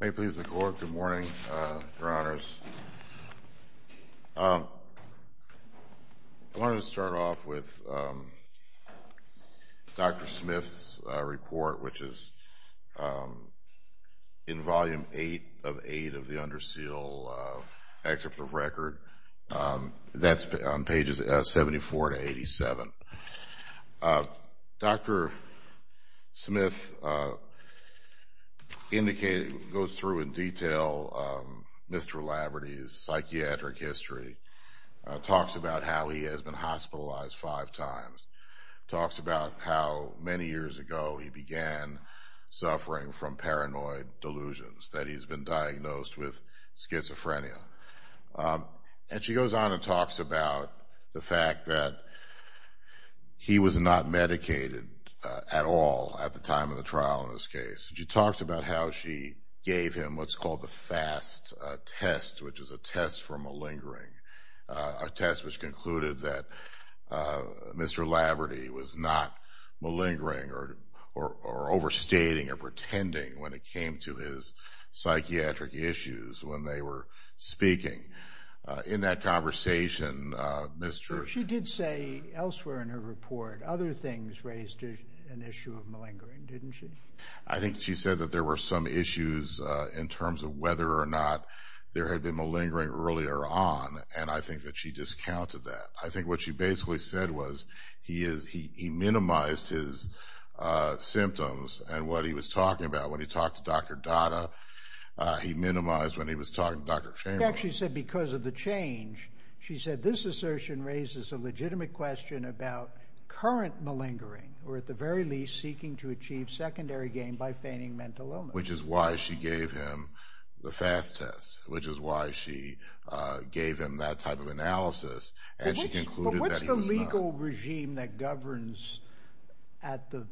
May it please the Court. Good morning, Your Honors. I wanted to start off with Dr. Smith's report, which is in Volume 8 of 8 of the Underseal Excerpt of Record, that's on pages 74 to 87. Dr. Smith goes through in detail Mr. Laverty's psychiatric history, talks about how he has been hospitalized five times, talks about how many years ago he began suffering from paranoid delusions, that he's been diagnosed with schizophrenia. And she goes on and talks about the fact that he was not medicated at all at the time of the trial in this case. She talks about how she gave him what's called the FAST test, which is a test for malingering, a test which concluded that Mr. Laverty was not malingering or overstating or pretending when it came to his psychiatric issues. She did say elsewhere in her report other things raised an issue of malingering, didn't she? I think she said that there were some issues in terms of whether or not there had been malingering earlier on, and I think that she discounted that. I think what she basically said was he minimized his symptoms and what he was talking about when he talked to Dr. Datta. He minimized when he was talking to Dr. Chamberlain. She actually said because of the change, she said this assertion raises a legitimate question about current malingering or at the very least seeking to achieve secondary gain by feigning mental illness. Which is why she gave him the FAST test, which is why she gave him that type of analysis and she concluded that he was not. It's the federal regime that governs at the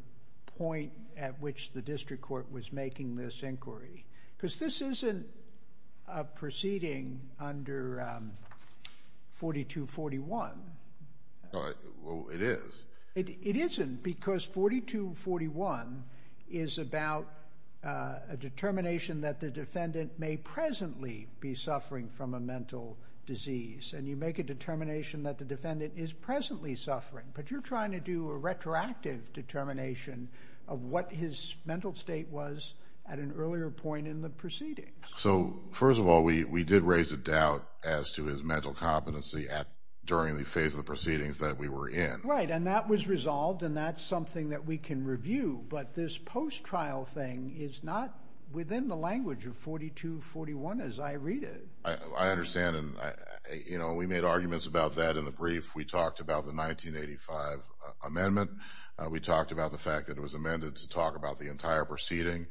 point at which the district court was making this inquiry because this isn't a proceeding under 4241. It is. It isn't because 4241 is about a determination that the defendant may presently be suffering from a mental disease, and you make a determination that the defendant is presently suffering, but you're trying to do a retroactive determination of what his mental state was at an earlier point in the proceedings. So, first of all, we did raise a doubt as to his mental competency during the phase of the proceedings that we were in. Right, and that was resolved and that's something that we can review, but this post-trial thing is not within the language of 4241 as I read it. I understand and we made arguments about that in the brief. We talked about the 1985 amendment. We talked about the fact that it was amended to talk about the entire proceeding.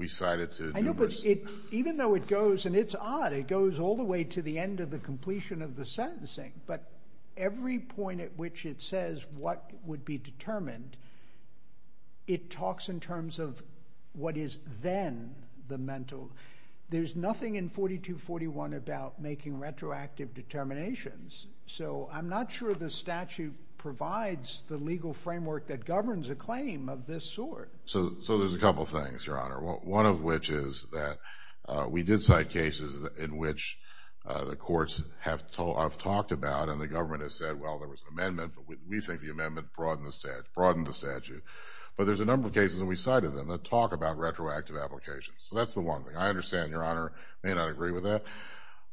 I know, but even though it goes, and it's odd, it goes all the way to the end of the completion of the sentencing, but every point at which it says what would be determined, it talks in terms of what is then the mental. There's nothing in 4241 about making retroactive determinations, so I'm not sure the statute provides the legal framework that governs a claim of this sort. So, there's a couple things, Your Honor, one of which is that we did cite cases in which the courts have talked about and the government has said, well, there was an amendment, but we think the amendment broadened the statute. But there's a number of cases and we cited them that talk about retroactive applications, so that's the one thing. I understand, Your Honor, may not agree with that.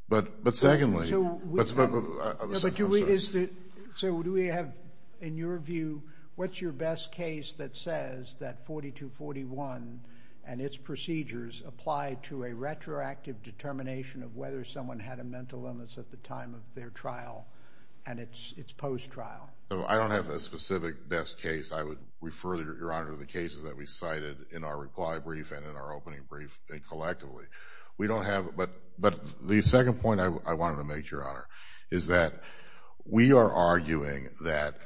But secondly, I'm sorry. So, do we have, in your view, what's your best case that says that 4241 and its procedures apply to a retroactive determination of whether someone had a mental illness at the time of their trial and its post-trial? I don't have a specific best case. I would refer, Your Honor, to the cases that we cited in our reply brief and in our opening brief collectively. We don't have, but the second point I wanted to make, Your Honor, is that we are arguing that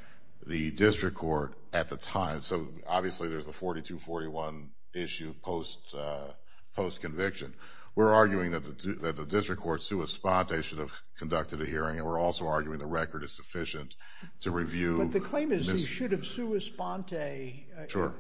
the district court at the time, so obviously there's the 4241 issue post-conviction. We're arguing that the district court, sua sponte, should have conducted a hearing and we're also arguing the record is sufficient to review. But the claim is they should have sua sponte. Sure.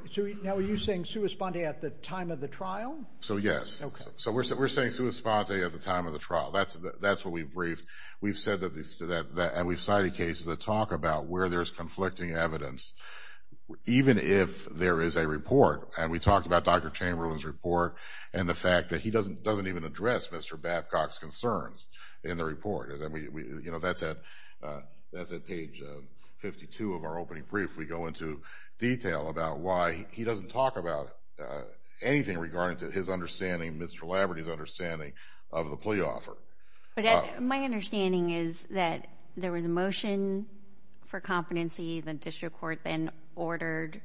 Now, are you saying sua sponte at the time of the trial? So, yes. Okay. So, we're saying sua sponte at the time of the trial. That's what we briefed. We've said that, and we've cited cases that talk about where there's conflicting evidence, even if there is a report. And we talked about Dr. Chamberlain's report and the fact that he doesn't even address Mr. Babcock's concerns in the report. That's at page 52 of our opening brief. We go into detail about why he doesn't talk about anything regarding to his understanding, Mr. Labrador's understanding of the plea offer. My understanding is that there was a motion for competency. The district court then ordered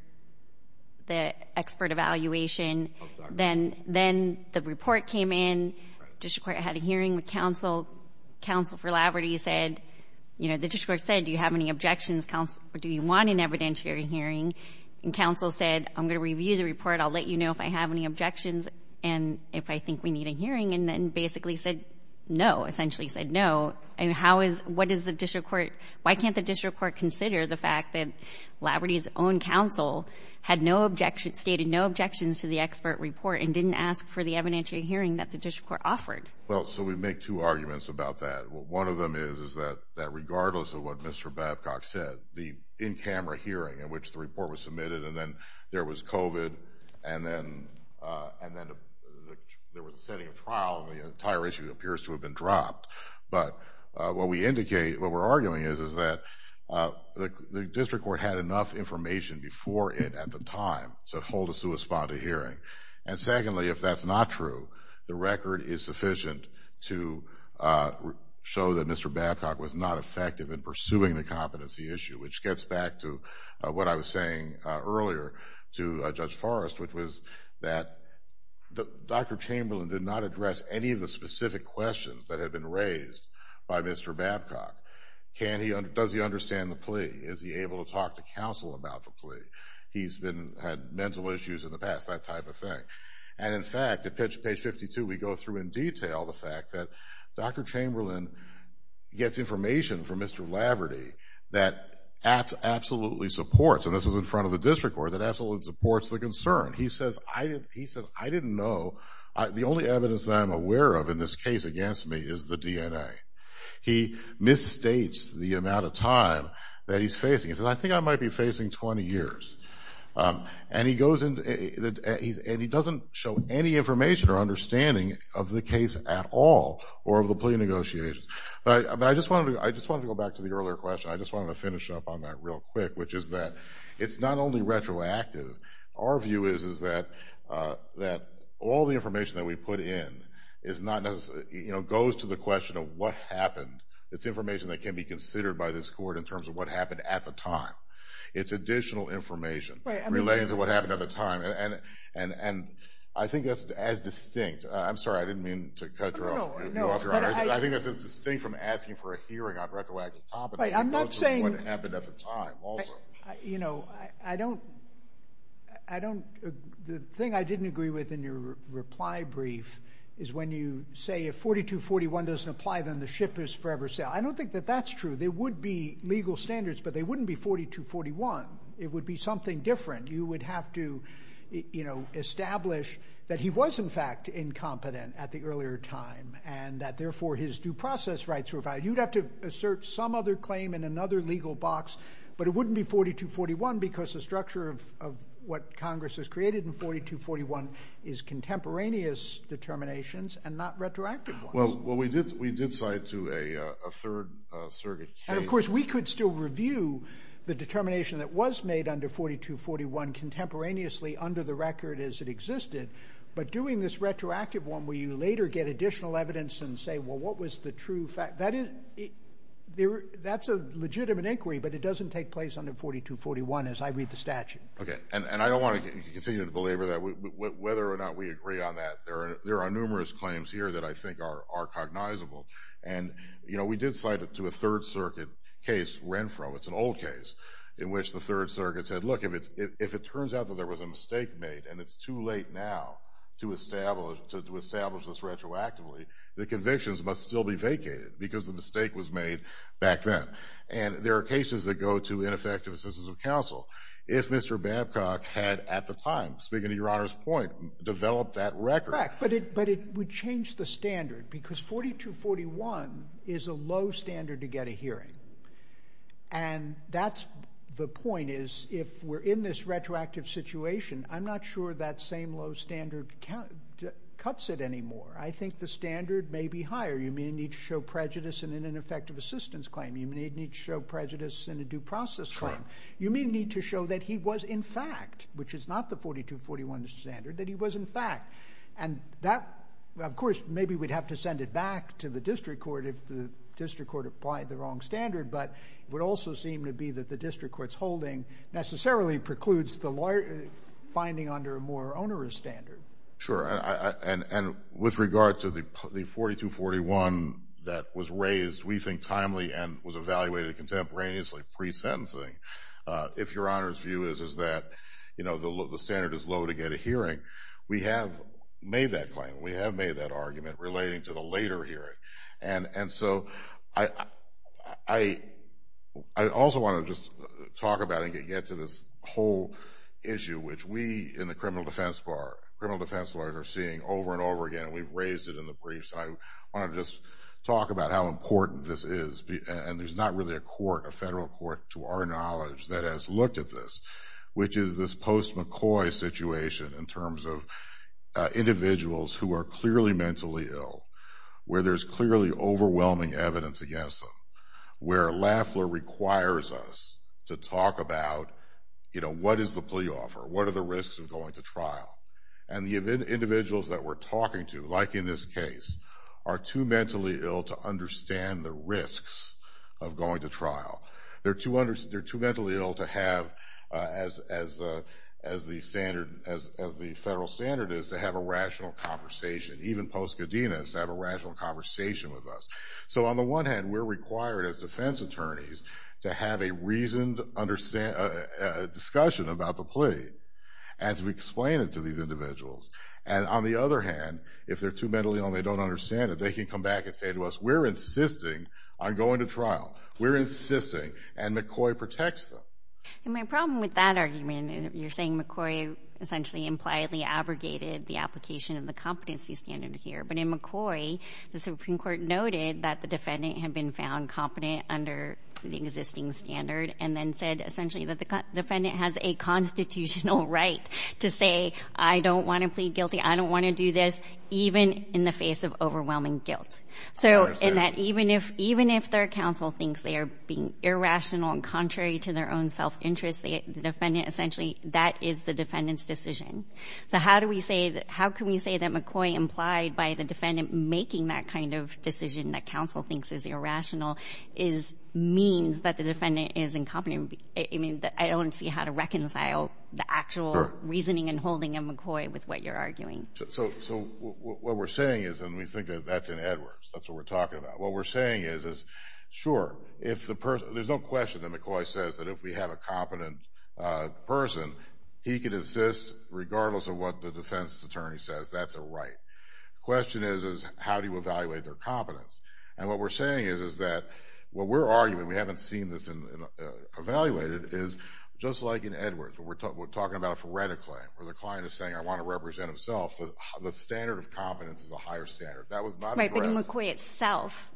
the expert evaluation. Then the report came in. The district court had a hearing with counsel. Counsel for Laverty said, you know, the district court said, do you have any objections, counsel, or do you want an evidentiary hearing? And counsel said, I'm going to review the report. I'll let you know if I have any objections and if I think we need a hearing, and then basically said no, essentially said no. And how is, what does the district court, why can't the district court consider the fact that Laverty's own counsel had no objection, stated no objections to the expert report, and didn't ask for the evidentiary hearing that the district court offered? Well, so we make two arguments about that. One of them is that regardless of what Mr. Babcock said, the in-camera hearing in which the report was submitted, and then there was COVID, and then there was a setting of trial, and the entire issue appears to have been dropped. But what we indicate, what we're arguing is that the district court had enough information before it at the time. So hold a suesponded hearing. And secondly, if that's not true, the record is sufficient to show that Mr. Babcock was not effective in pursuing the competency issue, which gets back to what I was saying earlier to Judge Forrest, which was that Dr. Chamberlain did not address any of the specific questions that had been raised by Mr. Babcock. Can he, does he understand the plea? Is he able to talk to counsel about the plea? He's had mental issues in the past, that type of thing. And in fact, at page 52, we go through in detail the fact that Dr. Chamberlain gets information from Mr. Laverty that absolutely supports, and this was in front of the district court, that absolutely supports the concern. He says, I didn't know, the only evidence that I'm aware of in this case against me is the DNA. He misstates the amount of time that he's facing. He says, I think I might be facing 20 years. And he doesn't show any information or understanding of the case at all or of the plea negotiations. But I just wanted to go back to the earlier question. I just wanted to finish up on that real quick, which is that it's not only retroactive. Our view is that all the information that we put in is not necessarily, you know, goes to the question of what happened. It's information that can be considered by this court in terms of what happened at the time. It's additional information relating to what happened at the time. And I think that's as distinct. I'm sorry. I didn't mean to cut you off, Your Honor. I think that's as distinct from asking for a hearing on retroactive competence. I'm not saying. What happened at the time also. You know, I don't. I don't. The thing I didn't agree with in your reply brief is when you say if 4241 doesn't apply, then the ship is forever sailed. I don't think that that's true. There would be legal standards, but they wouldn't be 4241. It would be something different. You would have to, you know, establish that he was, in fact, incompetent at the earlier time. And that, therefore, his due process rights were violated. You'd have to assert some other claim in another legal box. But it wouldn't be 4241 because the structure of what Congress has created in 4241 is contemporaneous determinations and not retroactive ones. Well, we did cite to a third surrogate case. And, of course, we could still review the determination that was made under 4241 contemporaneously under the record as it existed. But doing this retroactive one where you later get additional evidence and say, well, what was the true fact? That's a legitimate inquiry, but it doesn't take place under 4241 as I read the statute. Okay. And I don't want to continue to belabor that. Whether or not we agree on that, there are numerous claims here that I think are cognizable. And, you know, we did cite it to a third surrogate case, Renfro. It's an old case in which the third surrogate said, look, if it turns out that there was a mistake made and it's too late now to establish this retroactively, the convictions must still be vacated because the mistake was made back then. And there are cases that go to ineffective assistance of counsel. If Mr. Babcock had at the time, speaking to Your Honor's point, developed that record. Correct. But it would change the standard because 4241 is a low standard to get a hearing. And that's the point is if we're in this retroactive situation, I'm not sure that same low standard cuts it anymore. I think the standard may be higher. You may need to show prejudice in an ineffective assistance claim. You may need to show prejudice in a due process claim. You may need to show that he was in fact, which is not the 4241 standard, that he was in fact. And that, of course, maybe we'd have to send it back to the district court if the district court applied the wrong standard. But it would also seem to be that the district court's holding necessarily precludes the lawyer finding under a more onerous standard. Sure. And with regard to the 4241 that was raised, we think timely and was evaluated contemporaneously pre-sentencing. If Your Honor's view is that the standard is low to get a hearing, we have made that claim. We have made that argument relating to the later hearing. And so I also want to just talk about and get to this whole issue, which we in the criminal defense bar, criminal defense lawyers, are seeing over and over again. We've raised it in the briefs. I want to just talk about how important this is. And there's not really a court, a federal court, to our knowledge that has looked at this, which is this post-McCoy situation in terms of individuals who are clearly mentally ill, where there's clearly overwhelming evidence against them, where Lafler requires us to talk about, you know, what is the plea offer? What are the risks of going to trial? And the individuals that we're talking to, like in this case, are too mentally ill to understand the risks of going to trial. They're too mentally ill to have, as the federal standard is, to have a rational conversation. Even post-Cadenas to have a rational conversation with us. So on the one hand, we're required as defense attorneys to have a reasoned discussion about the plea as we explain it to these individuals. And on the other hand, if they're too mentally ill and they don't understand it, they can come back and say to us, we're insisting on going to trial. We're insisting. And McCoy protects them. And my problem with that argument, you're saying McCoy essentially impliedly abrogated the application of the competency standard here, but in McCoy, the Supreme Court noted that the defendant had been found competent under the existing standard and then said essentially that the defendant has a constitutional right to say, I don't want to plead guilty. I don't want to do this, even in the face of overwhelming guilt. Even if their counsel thinks they are being irrational and contrary to their own self-interest, the defendant essentially, that is the defendant's decision. So how can we say that McCoy, implied by the defendant making that kind of decision that counsel thinks is irrational, means that the defendant is incompetent? I don't see how to reconcile the actual reasoning and holding of McCoy with what you're arguing. So what we're saying is, and we think that's in Edwards, that's what we're talking about. What we're saying is, sure, there's no question that McCoy says that if we have a competent person, he can insist regardless of what the defense attorney says, that's a right. The question is, how do you evaluate their competence? And what we're saying is that what we're arguing, we haven't seen this evaluated, is just like in Edwards, where we're talking about it phoretically, where the client is saying, I want to represent himself. The standard of competence is a higher standard. That was not addressed. Right, but in McCoy itself,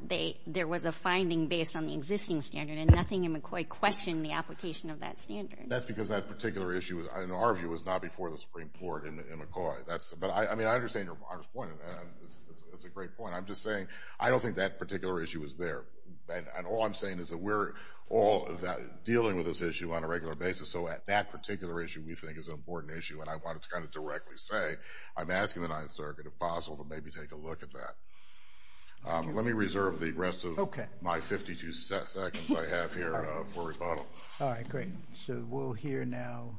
there was a finding based on the existing standard, and nothing in McCoy questioned the application of that standard. That's because that particular issue, in our view, was not before the Supreme Court in McCoy. But I mean, I understand your honest point, and it's a great point. I'm just saying, I don't think that particular issue was there. And all I'm saying is that we're all dealing with this issue on a regular basis, so that particular issue we think is an important issue, and I wanted to kind of directly say, I'm asking the Ninth Circuit if possible to maybe take a look at that. Let me reserve the rest of my 52 seconds I have here for rebuttal. All right, great. So we'll hear now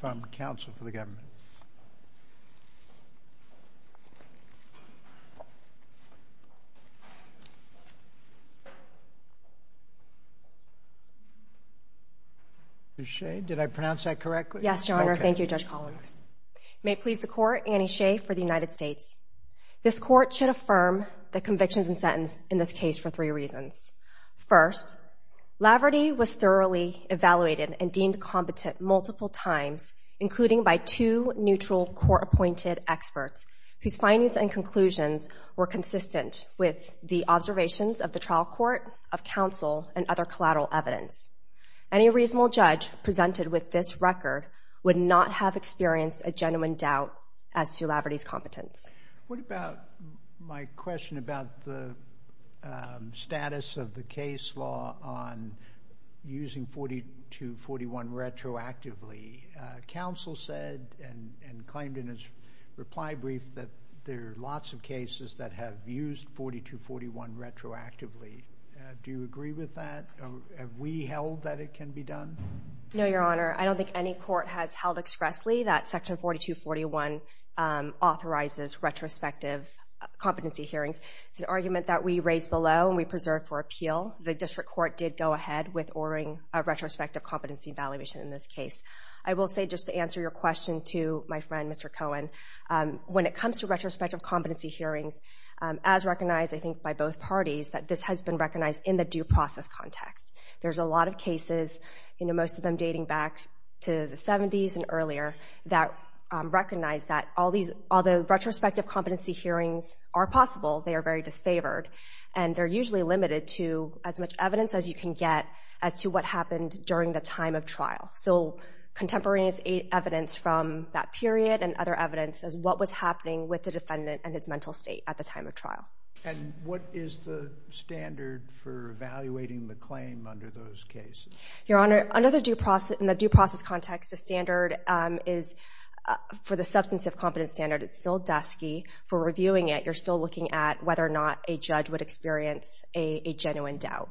from counsel for the government. Ms. Shea, did I pronounce that correctly? Yes, Your Honor, thank you, Judge Collins. May it please the Court, Annie Shea for the United States. This Court should affirm the convictions and sentence in this case for three reasons. First, Laverty was thoroughly evaluated and deemed competent multiple times, including by two neutral court-appointed experts, whose findings and conclusions were consistent with the observations of the trial court, of counsel, and other collateral evidence. Any reasonable judge presented with this record would not have experienced a genuine doubt as to Laverty's competence. What about my question about the status of the case law on using 4241 retroactively? Counsel said and claimed in his reply brief that there are lots of cases that have used 4241 retroactively. Do you agree with that? Have we held that it can be done? No, Your Honor. I don't think any court has held expressly that Section 4241 authorizes retrospective competency hearings. It's an argument that we raise below and we preserve for appeal. The district court did go ahead with ordering a retrospective competency evaluation in this case. I will say, just to answer your question to my friend, Mr. Cohen, when it comes to retrospective competency hearings, as recognized, I think, by both parties, that this has been recognized in the due process context. There's a lot of cases, most of them dating back to the 70s and earlier, that recognize that all the retrospective competency hearings are possible. They are very disfavored, and they're usually limited to as much evidence as you can get as to what happened during the time of trial. So contemporaneous evidence from that period and other evidence as what was happening with the defendant and his mental state at the time of trial. And what is the standard for evaluating the claim under those cases? Your Honor, under the due process, in the due process context, the standard is, for the substantive competence standard, it's still dusky. For reviewing it, you're still looking at whether or not a judge would experience a genuine doubt.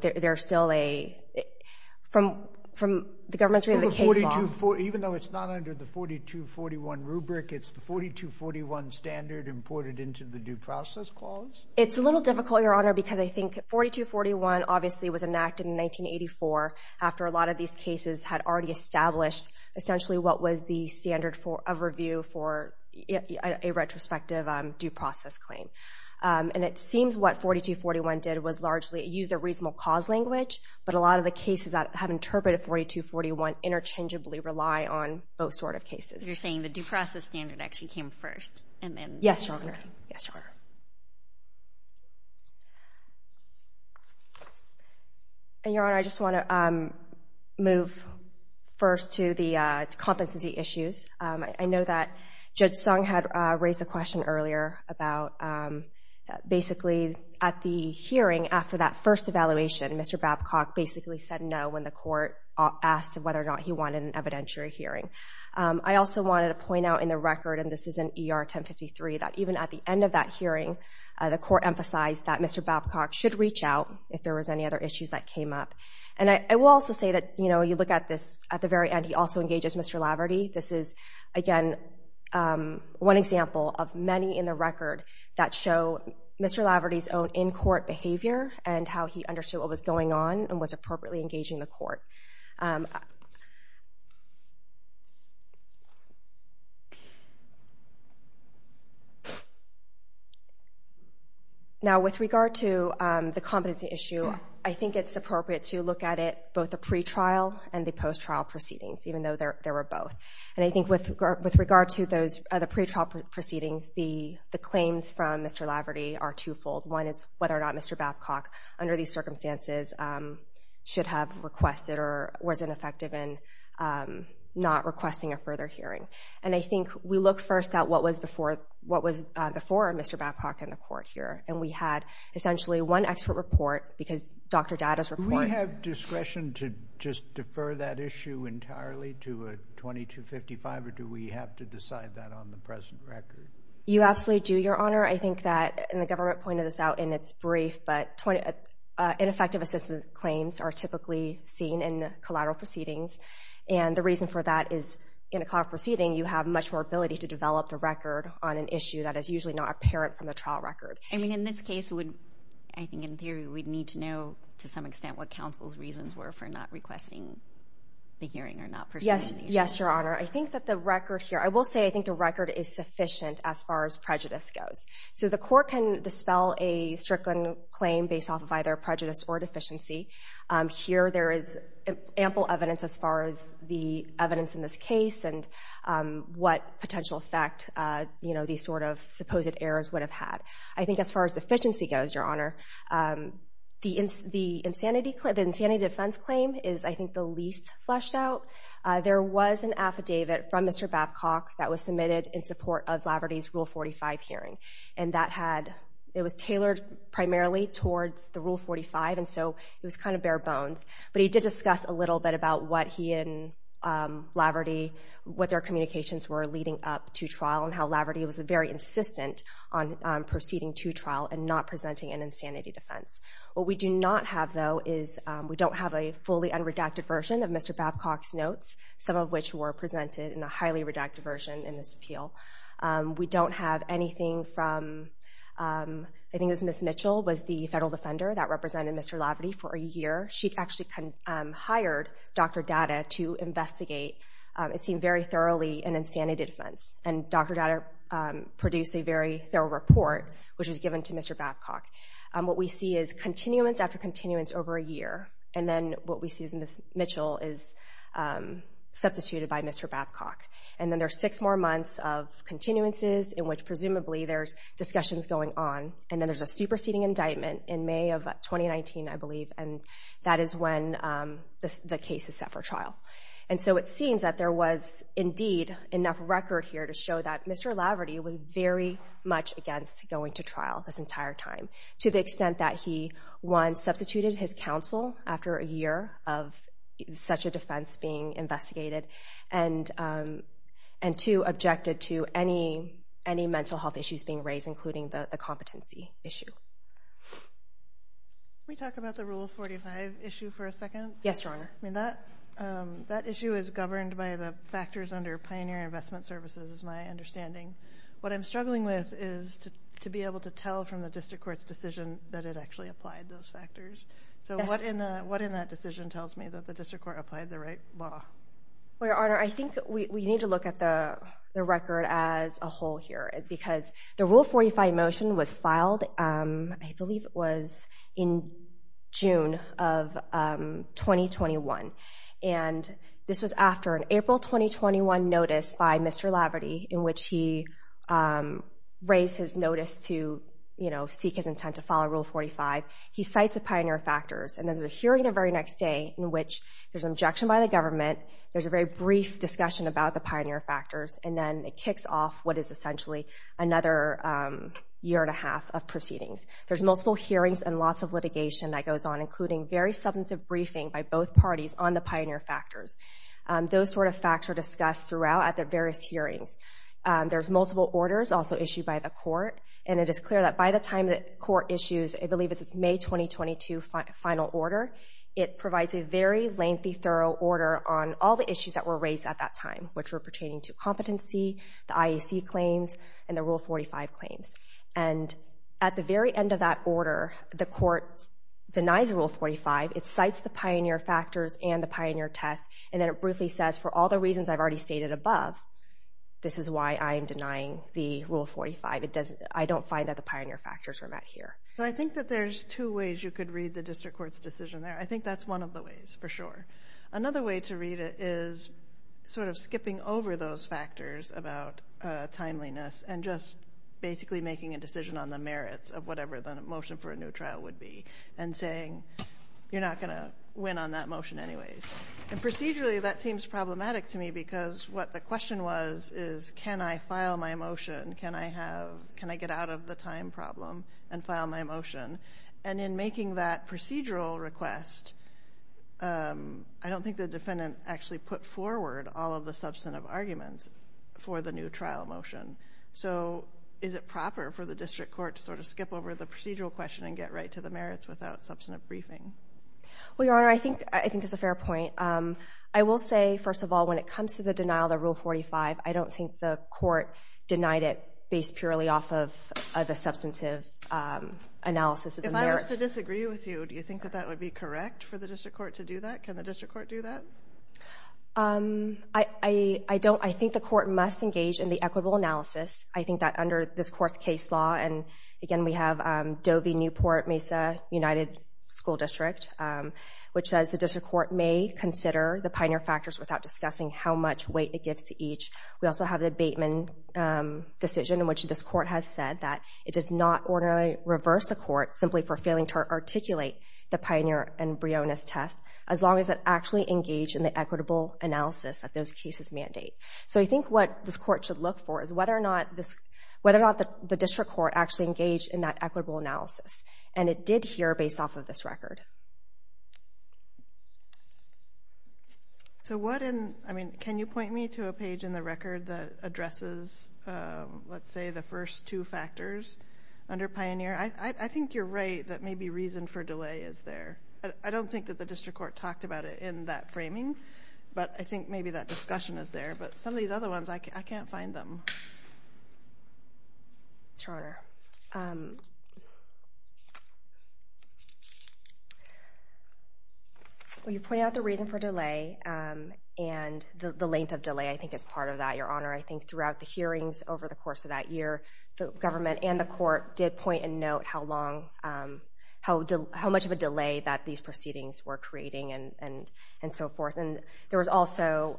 There's still a, from the government's view of the case law. Even though it's not under the 4241 rubric, it's the 4241 standard imported into the due process clause? It's a little difficult, Your Honor, because I think 4241 obviously was enacted in 1984 after a lot of these cases had already established, essentially, what was the standard of review for a retrospective due process claim. And it seems what 4241 did was largely use the reasonable cause language, but a lot of the cases that have interpreted 4241 interchangeably rely on both sort of cases. You're saying the due process standard actually came first, and then the standard came later? Yes, Your Honor. And, Your Honor, I just want to move first to the competency issues. I know that Judge Sung had raised a question earlier about, basically, at the hearing after that first evaluation, Mr. Babcock basically said no when the court asked whether or not he wanted an evidentiary hearing. I also wanted to point out in the record, and this is in ER 1053, that even at the end of that hearing, the court emphasized that Mr. Babcock should reach out if there was any other issues that came up. And I will also say that, you know, you look at this at the very end, he also engages Mr. Laverty. This is, again, one example of many in the record that show Mr. Laverty's own in-court behavior and how he understood what was going on and was appropriately engaging the court. Now, with regard to the competency issue, I think it's appropriate to look at it, both the pre-trial and the post-trial proceedings, even though there were both. And I think with regard to the pre-trial proceedings, the claims from Mr. Laverty are twofold. One is whether or not Mr. Babcock, under these circumstances, should have requested or was ineffective in not requesting a further hearing. And I think we look first at what was before Mr. Babcock in the court here. And we had, essentially, one expert report because Dr. Data's report— To just defer that issue entirely to a 2255, or do we have to decide that on the present record? You absolutely do, Your Honor. I think that, and the government pointed this out in its brief, but ineffective assistance claims are typically seen in collateral proceedings. And the reason for that is, in a collateral proceeding, you have much more ability to develop the record on an issue that is usually not apparent from the trial record. I mean, in this case, I think in theory we'd need to know, to some extent, what counsel's reasons were for not requesting the hearing or not proceeding. Yes, Your Honor. I think that the record here—I will say I think the record is sufficient as far as prejudice goes. So the court can dispel a Strickland claim based off of either prejudice or deficiency. Here there is ample evidence as far as the evidence in this case and what potential effect these sort of supposed errors would have had. I think as far as efficiency goes, Your Honor, the insanity defense claim is, I think, the least fleshed out. There was an affidavit from Mr. Babcock that was submitted in support of Laverty's Rule 45 hearing, and that had—it was tailored primarily towards the Rule 45, and so it was kind of bare bones. But he did discuss a little bit about what he and Laverty— and not presenting an insanity defense. What we do not have, though, is we don't have a fully unredacted version of Mr. Babcock's notes, some of which were presented in a highly redacted version in this appeal. We don't have anything from—I think it was Ms. Mitchell was the federal defender that represented Mr. Laverty for a year. She actually hired Dr. Data to investigate, it seemed, very thoroughly an insanity defense. And Dr. Data produced a very thorough report, which was given to Mr. Babcock. What we see is continuance after continuance over a year, and then what we see is Ms. Mitchell is substituted by Mr. Babcock. And then there's six more months of continuances in which presumably there's discussions going on, and then there's a superseding indictment in May of 2019, I believe, and that is when the case is set for trial. And so it seems that there was indeed enough record here to show that Mr. Laverty was very much against going to trial this entire time, to the extent that he, one, substituted his counsel after a year of such a defense being investigated, and, two, objected to any mental health issues being raised, including the competency issue. Can we talk about the Rule 45 issue for a second? Yes, Your Honor. I mean, that issue is governed by the factors under Pioneer Investment Services, is my understanding. What I'm struggling with is to be able to tell from the district court's decision that it actually applied those factors. So what in that decision tells me that the district court applied the right law? Well, Your Honor, I think we need to look at the record as a whole here, because the Rule 45 motion was filed, I believe it was in June of 2021, and this was after an April 2021 notice by Mr. Laverty, in which he raised his notice to, you know, seek his intent to follow Rule 45. He cites the pioneer factors, and then there's a hearing the very next day in which there's an objection by the government, there's a very brief discussion about the pioneer factors, and then it kicks off what is essentially another year and a half of proceedings. There's multiple hearings and lots of litigation that goes on, including very substantive briefing by both parties on the pioneer factors. Those sort of facts are discussed throughout at the various hearings. There's multiple orders also issued by the court, and it is clear that by the time the court issues, I believe it's May 2022 final order, it provides a very lengthy, thorough order on all the issues that were raised at that time, which were pertaining to competency, the IEC claims, and the Rule 45 claims. And at the very end of that order, the court denies Rule 45. It cites the pioneer factors and the pioneer test, and then it briefly says, for all the reasons I've already stated above, this is why I am denying the Rule 45. I don't find that the pioneer factors were met here. So I think that there's two ways you could read the district court's decision there. I think that's one of the ways, for sure. Another way to read it is sort of skipping over those factors about timeliness and just basically making a decision on the merits of whatever the motion for a new trial would be and saying you're not going to win on that motion anyways. And procedurally, that seems problematic to me because what the question was is can I file my motion? Can I get out of the time problem and file my motion? And in making that procedural request, I don't think the defendant actually put forward all of the substantive arguments for the new trial motion. So is it proper for the district court to sort of skip over the procedural question and get right to the merits without substantive briefing? Well, Your Honor, I think that's a fair point. I will say, first of all, when it comes to the denial of the Rule 45, I don't think the court denied it based purely off of the substantive analysis of the merits. If I was to disagree with you, do you think that that would be correct for the district court to do that? Can the district court do that? I don't. I think the court must engage in the equitable analysis. I think that under this court's case law, and again, we have Dovey, Newport, Mesa, United School District, which says the district court may consider the pioneer factors without discussing how much weight it gives to each. We also have the Bateman decision in which this court has said that it does not ordinarily reverse a court simply for failing to articulate the pioneer embryonis test as long as it actually engaged in the equitable analysis that those cases mandate. So I think what this court should look for is whether or not the district court actually engaged in that equitable analysis, and it did here based off of this record. So what in, I mean, can you point me to a page in the record that addresses, let's say, the first two factors under pioneer? I think you're right that maybe reason for delay is there. I don't think that the district court talked about it in that framing, but I think maybe that discussion is there. But some of these other ones, I can't find them. Your Honor, well, you pointed out the reason for delay, and the length of delay I think is part of that. Your Honor, I think throughout the hearings over the course of that year, the government and the court did point and note how much of a delay that these proceedings were creating and so forth. And there was also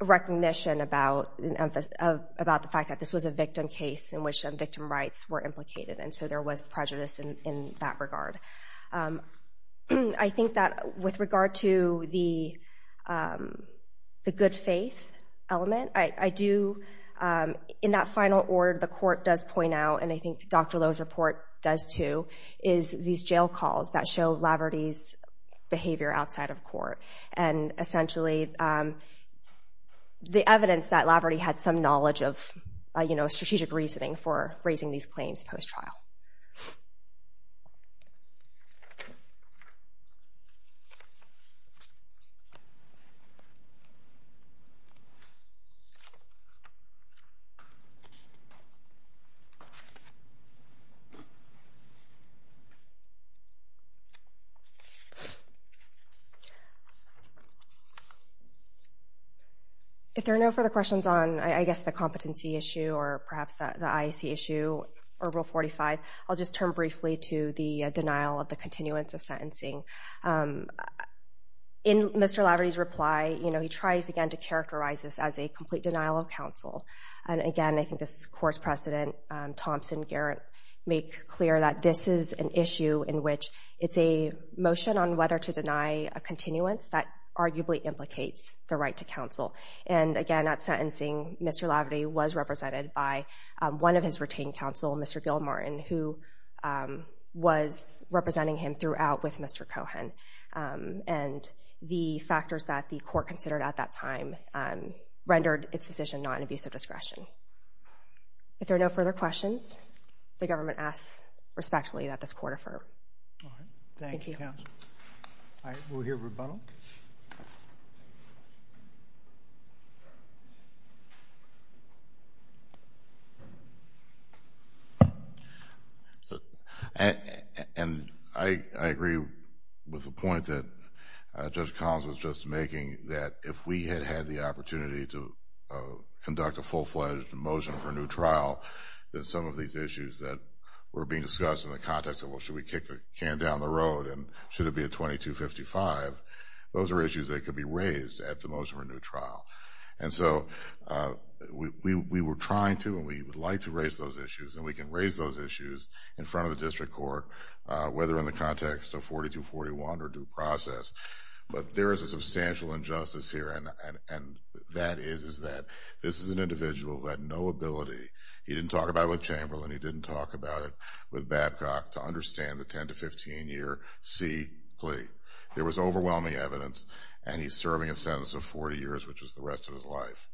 recognition about the fact that this was a victim case in which victim rights were implicated, and so there was prejudice in that regard. I think that with regard to the good faith element, I do, in that final order, the court does point out, and I think Dr. Lowe's report does too, is these jail calls that show Laverty's behavior outside of court, and essentially the evidence that Laverty had some knowledge of strategic reasoning for raising these claims post-trial. If there are no further questions on, I guess, the competency issue or perhaps the IAC issue or Rule 45, I'll just turn briefly to the denial of the continuance of sentencing. In Mr. Laverty's reply, you know, he tries again to characterize this as a complete denial of counsel. And again, I think this court's precedent, Thompson, Garrett, make clear that this is an issue in which it's a motion on whether to deny a continuance that arguably implicates the right to counsel. And again, at sentencing, Mr. Laverty was represented by one of his retained counsel, Mr. Gilmartin, who was representing him throughout with Mr. Cohen. And the factors that the court considered at that time rendered its decision not an abuse of discretion. If there are no further questions, the government asks respectfully that this court affirm. All right. Thank you, counsel. All right, we'll hear rebuttal. And I agree with the point that Judge Collins was just making that if we had had the opportunity to conduct a full-fledged motion for a new trial, that some of these issues that were being discussed in the context of, well, should we kick the can down the road and should it be a 2255, those are issues that could be raised at the motion for a new trial. And so we were trying to and we would like to raise those issues, and we can raise those issues in front of the district court, whether in the context of 4241 or due process. But there is a substantial injustice here, and that is that this is an individual who had no ability. He didn't talk about it with Chamberlain. He didn't talk about it with Babcock to understand the 10- to 15-year C plea. There was overwhelming evidence, and he's serving a sentence of 40 years, which is the rest of his life.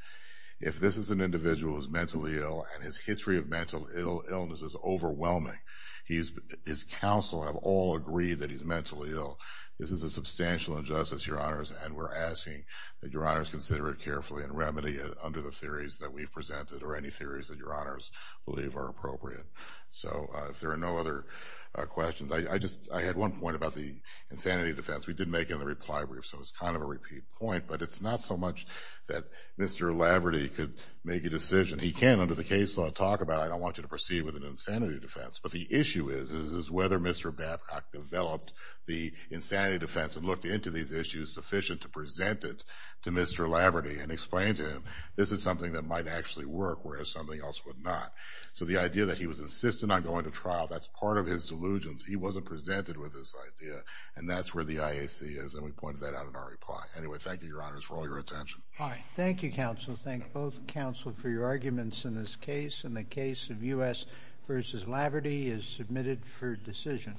If this is an individual who's mentally ill and his history of mental illness is overwhelming, his counsel have all agreed that he's mentally ill, this is a substantial injustice, Your Honors, and we're asking that Your Honors consider it carefully and remedy it under the theories that we've presented or any theories that Your Honors believe are appropriate. So if there are no other questions, I had one point about the insanity defense. We did make it in the reply brief, so it was kind of a repeat point, but it's not so much that Mr. Laverty could make a decision. He can under the case law talk about it. I don't want you to proceed with an insanity defense. But the issue is whether Mr. Babcock developed the insanity defense and looked into these issues sufficient to present it to Mr. Laverty and explain to him this is something that might actually work, whereas something else would not. So the idea that he was insistent on going to trial, that's part of his delusions. He wasn't presented with this idea, and that's where the IAC is, and we pointed that out in our reply. Anyway, thank you, Your Honors, for all your attention. Thank you, counsel. Thank both counsel for your arguments in this case, and the case of U.S. v. Laverty is submitted for decision.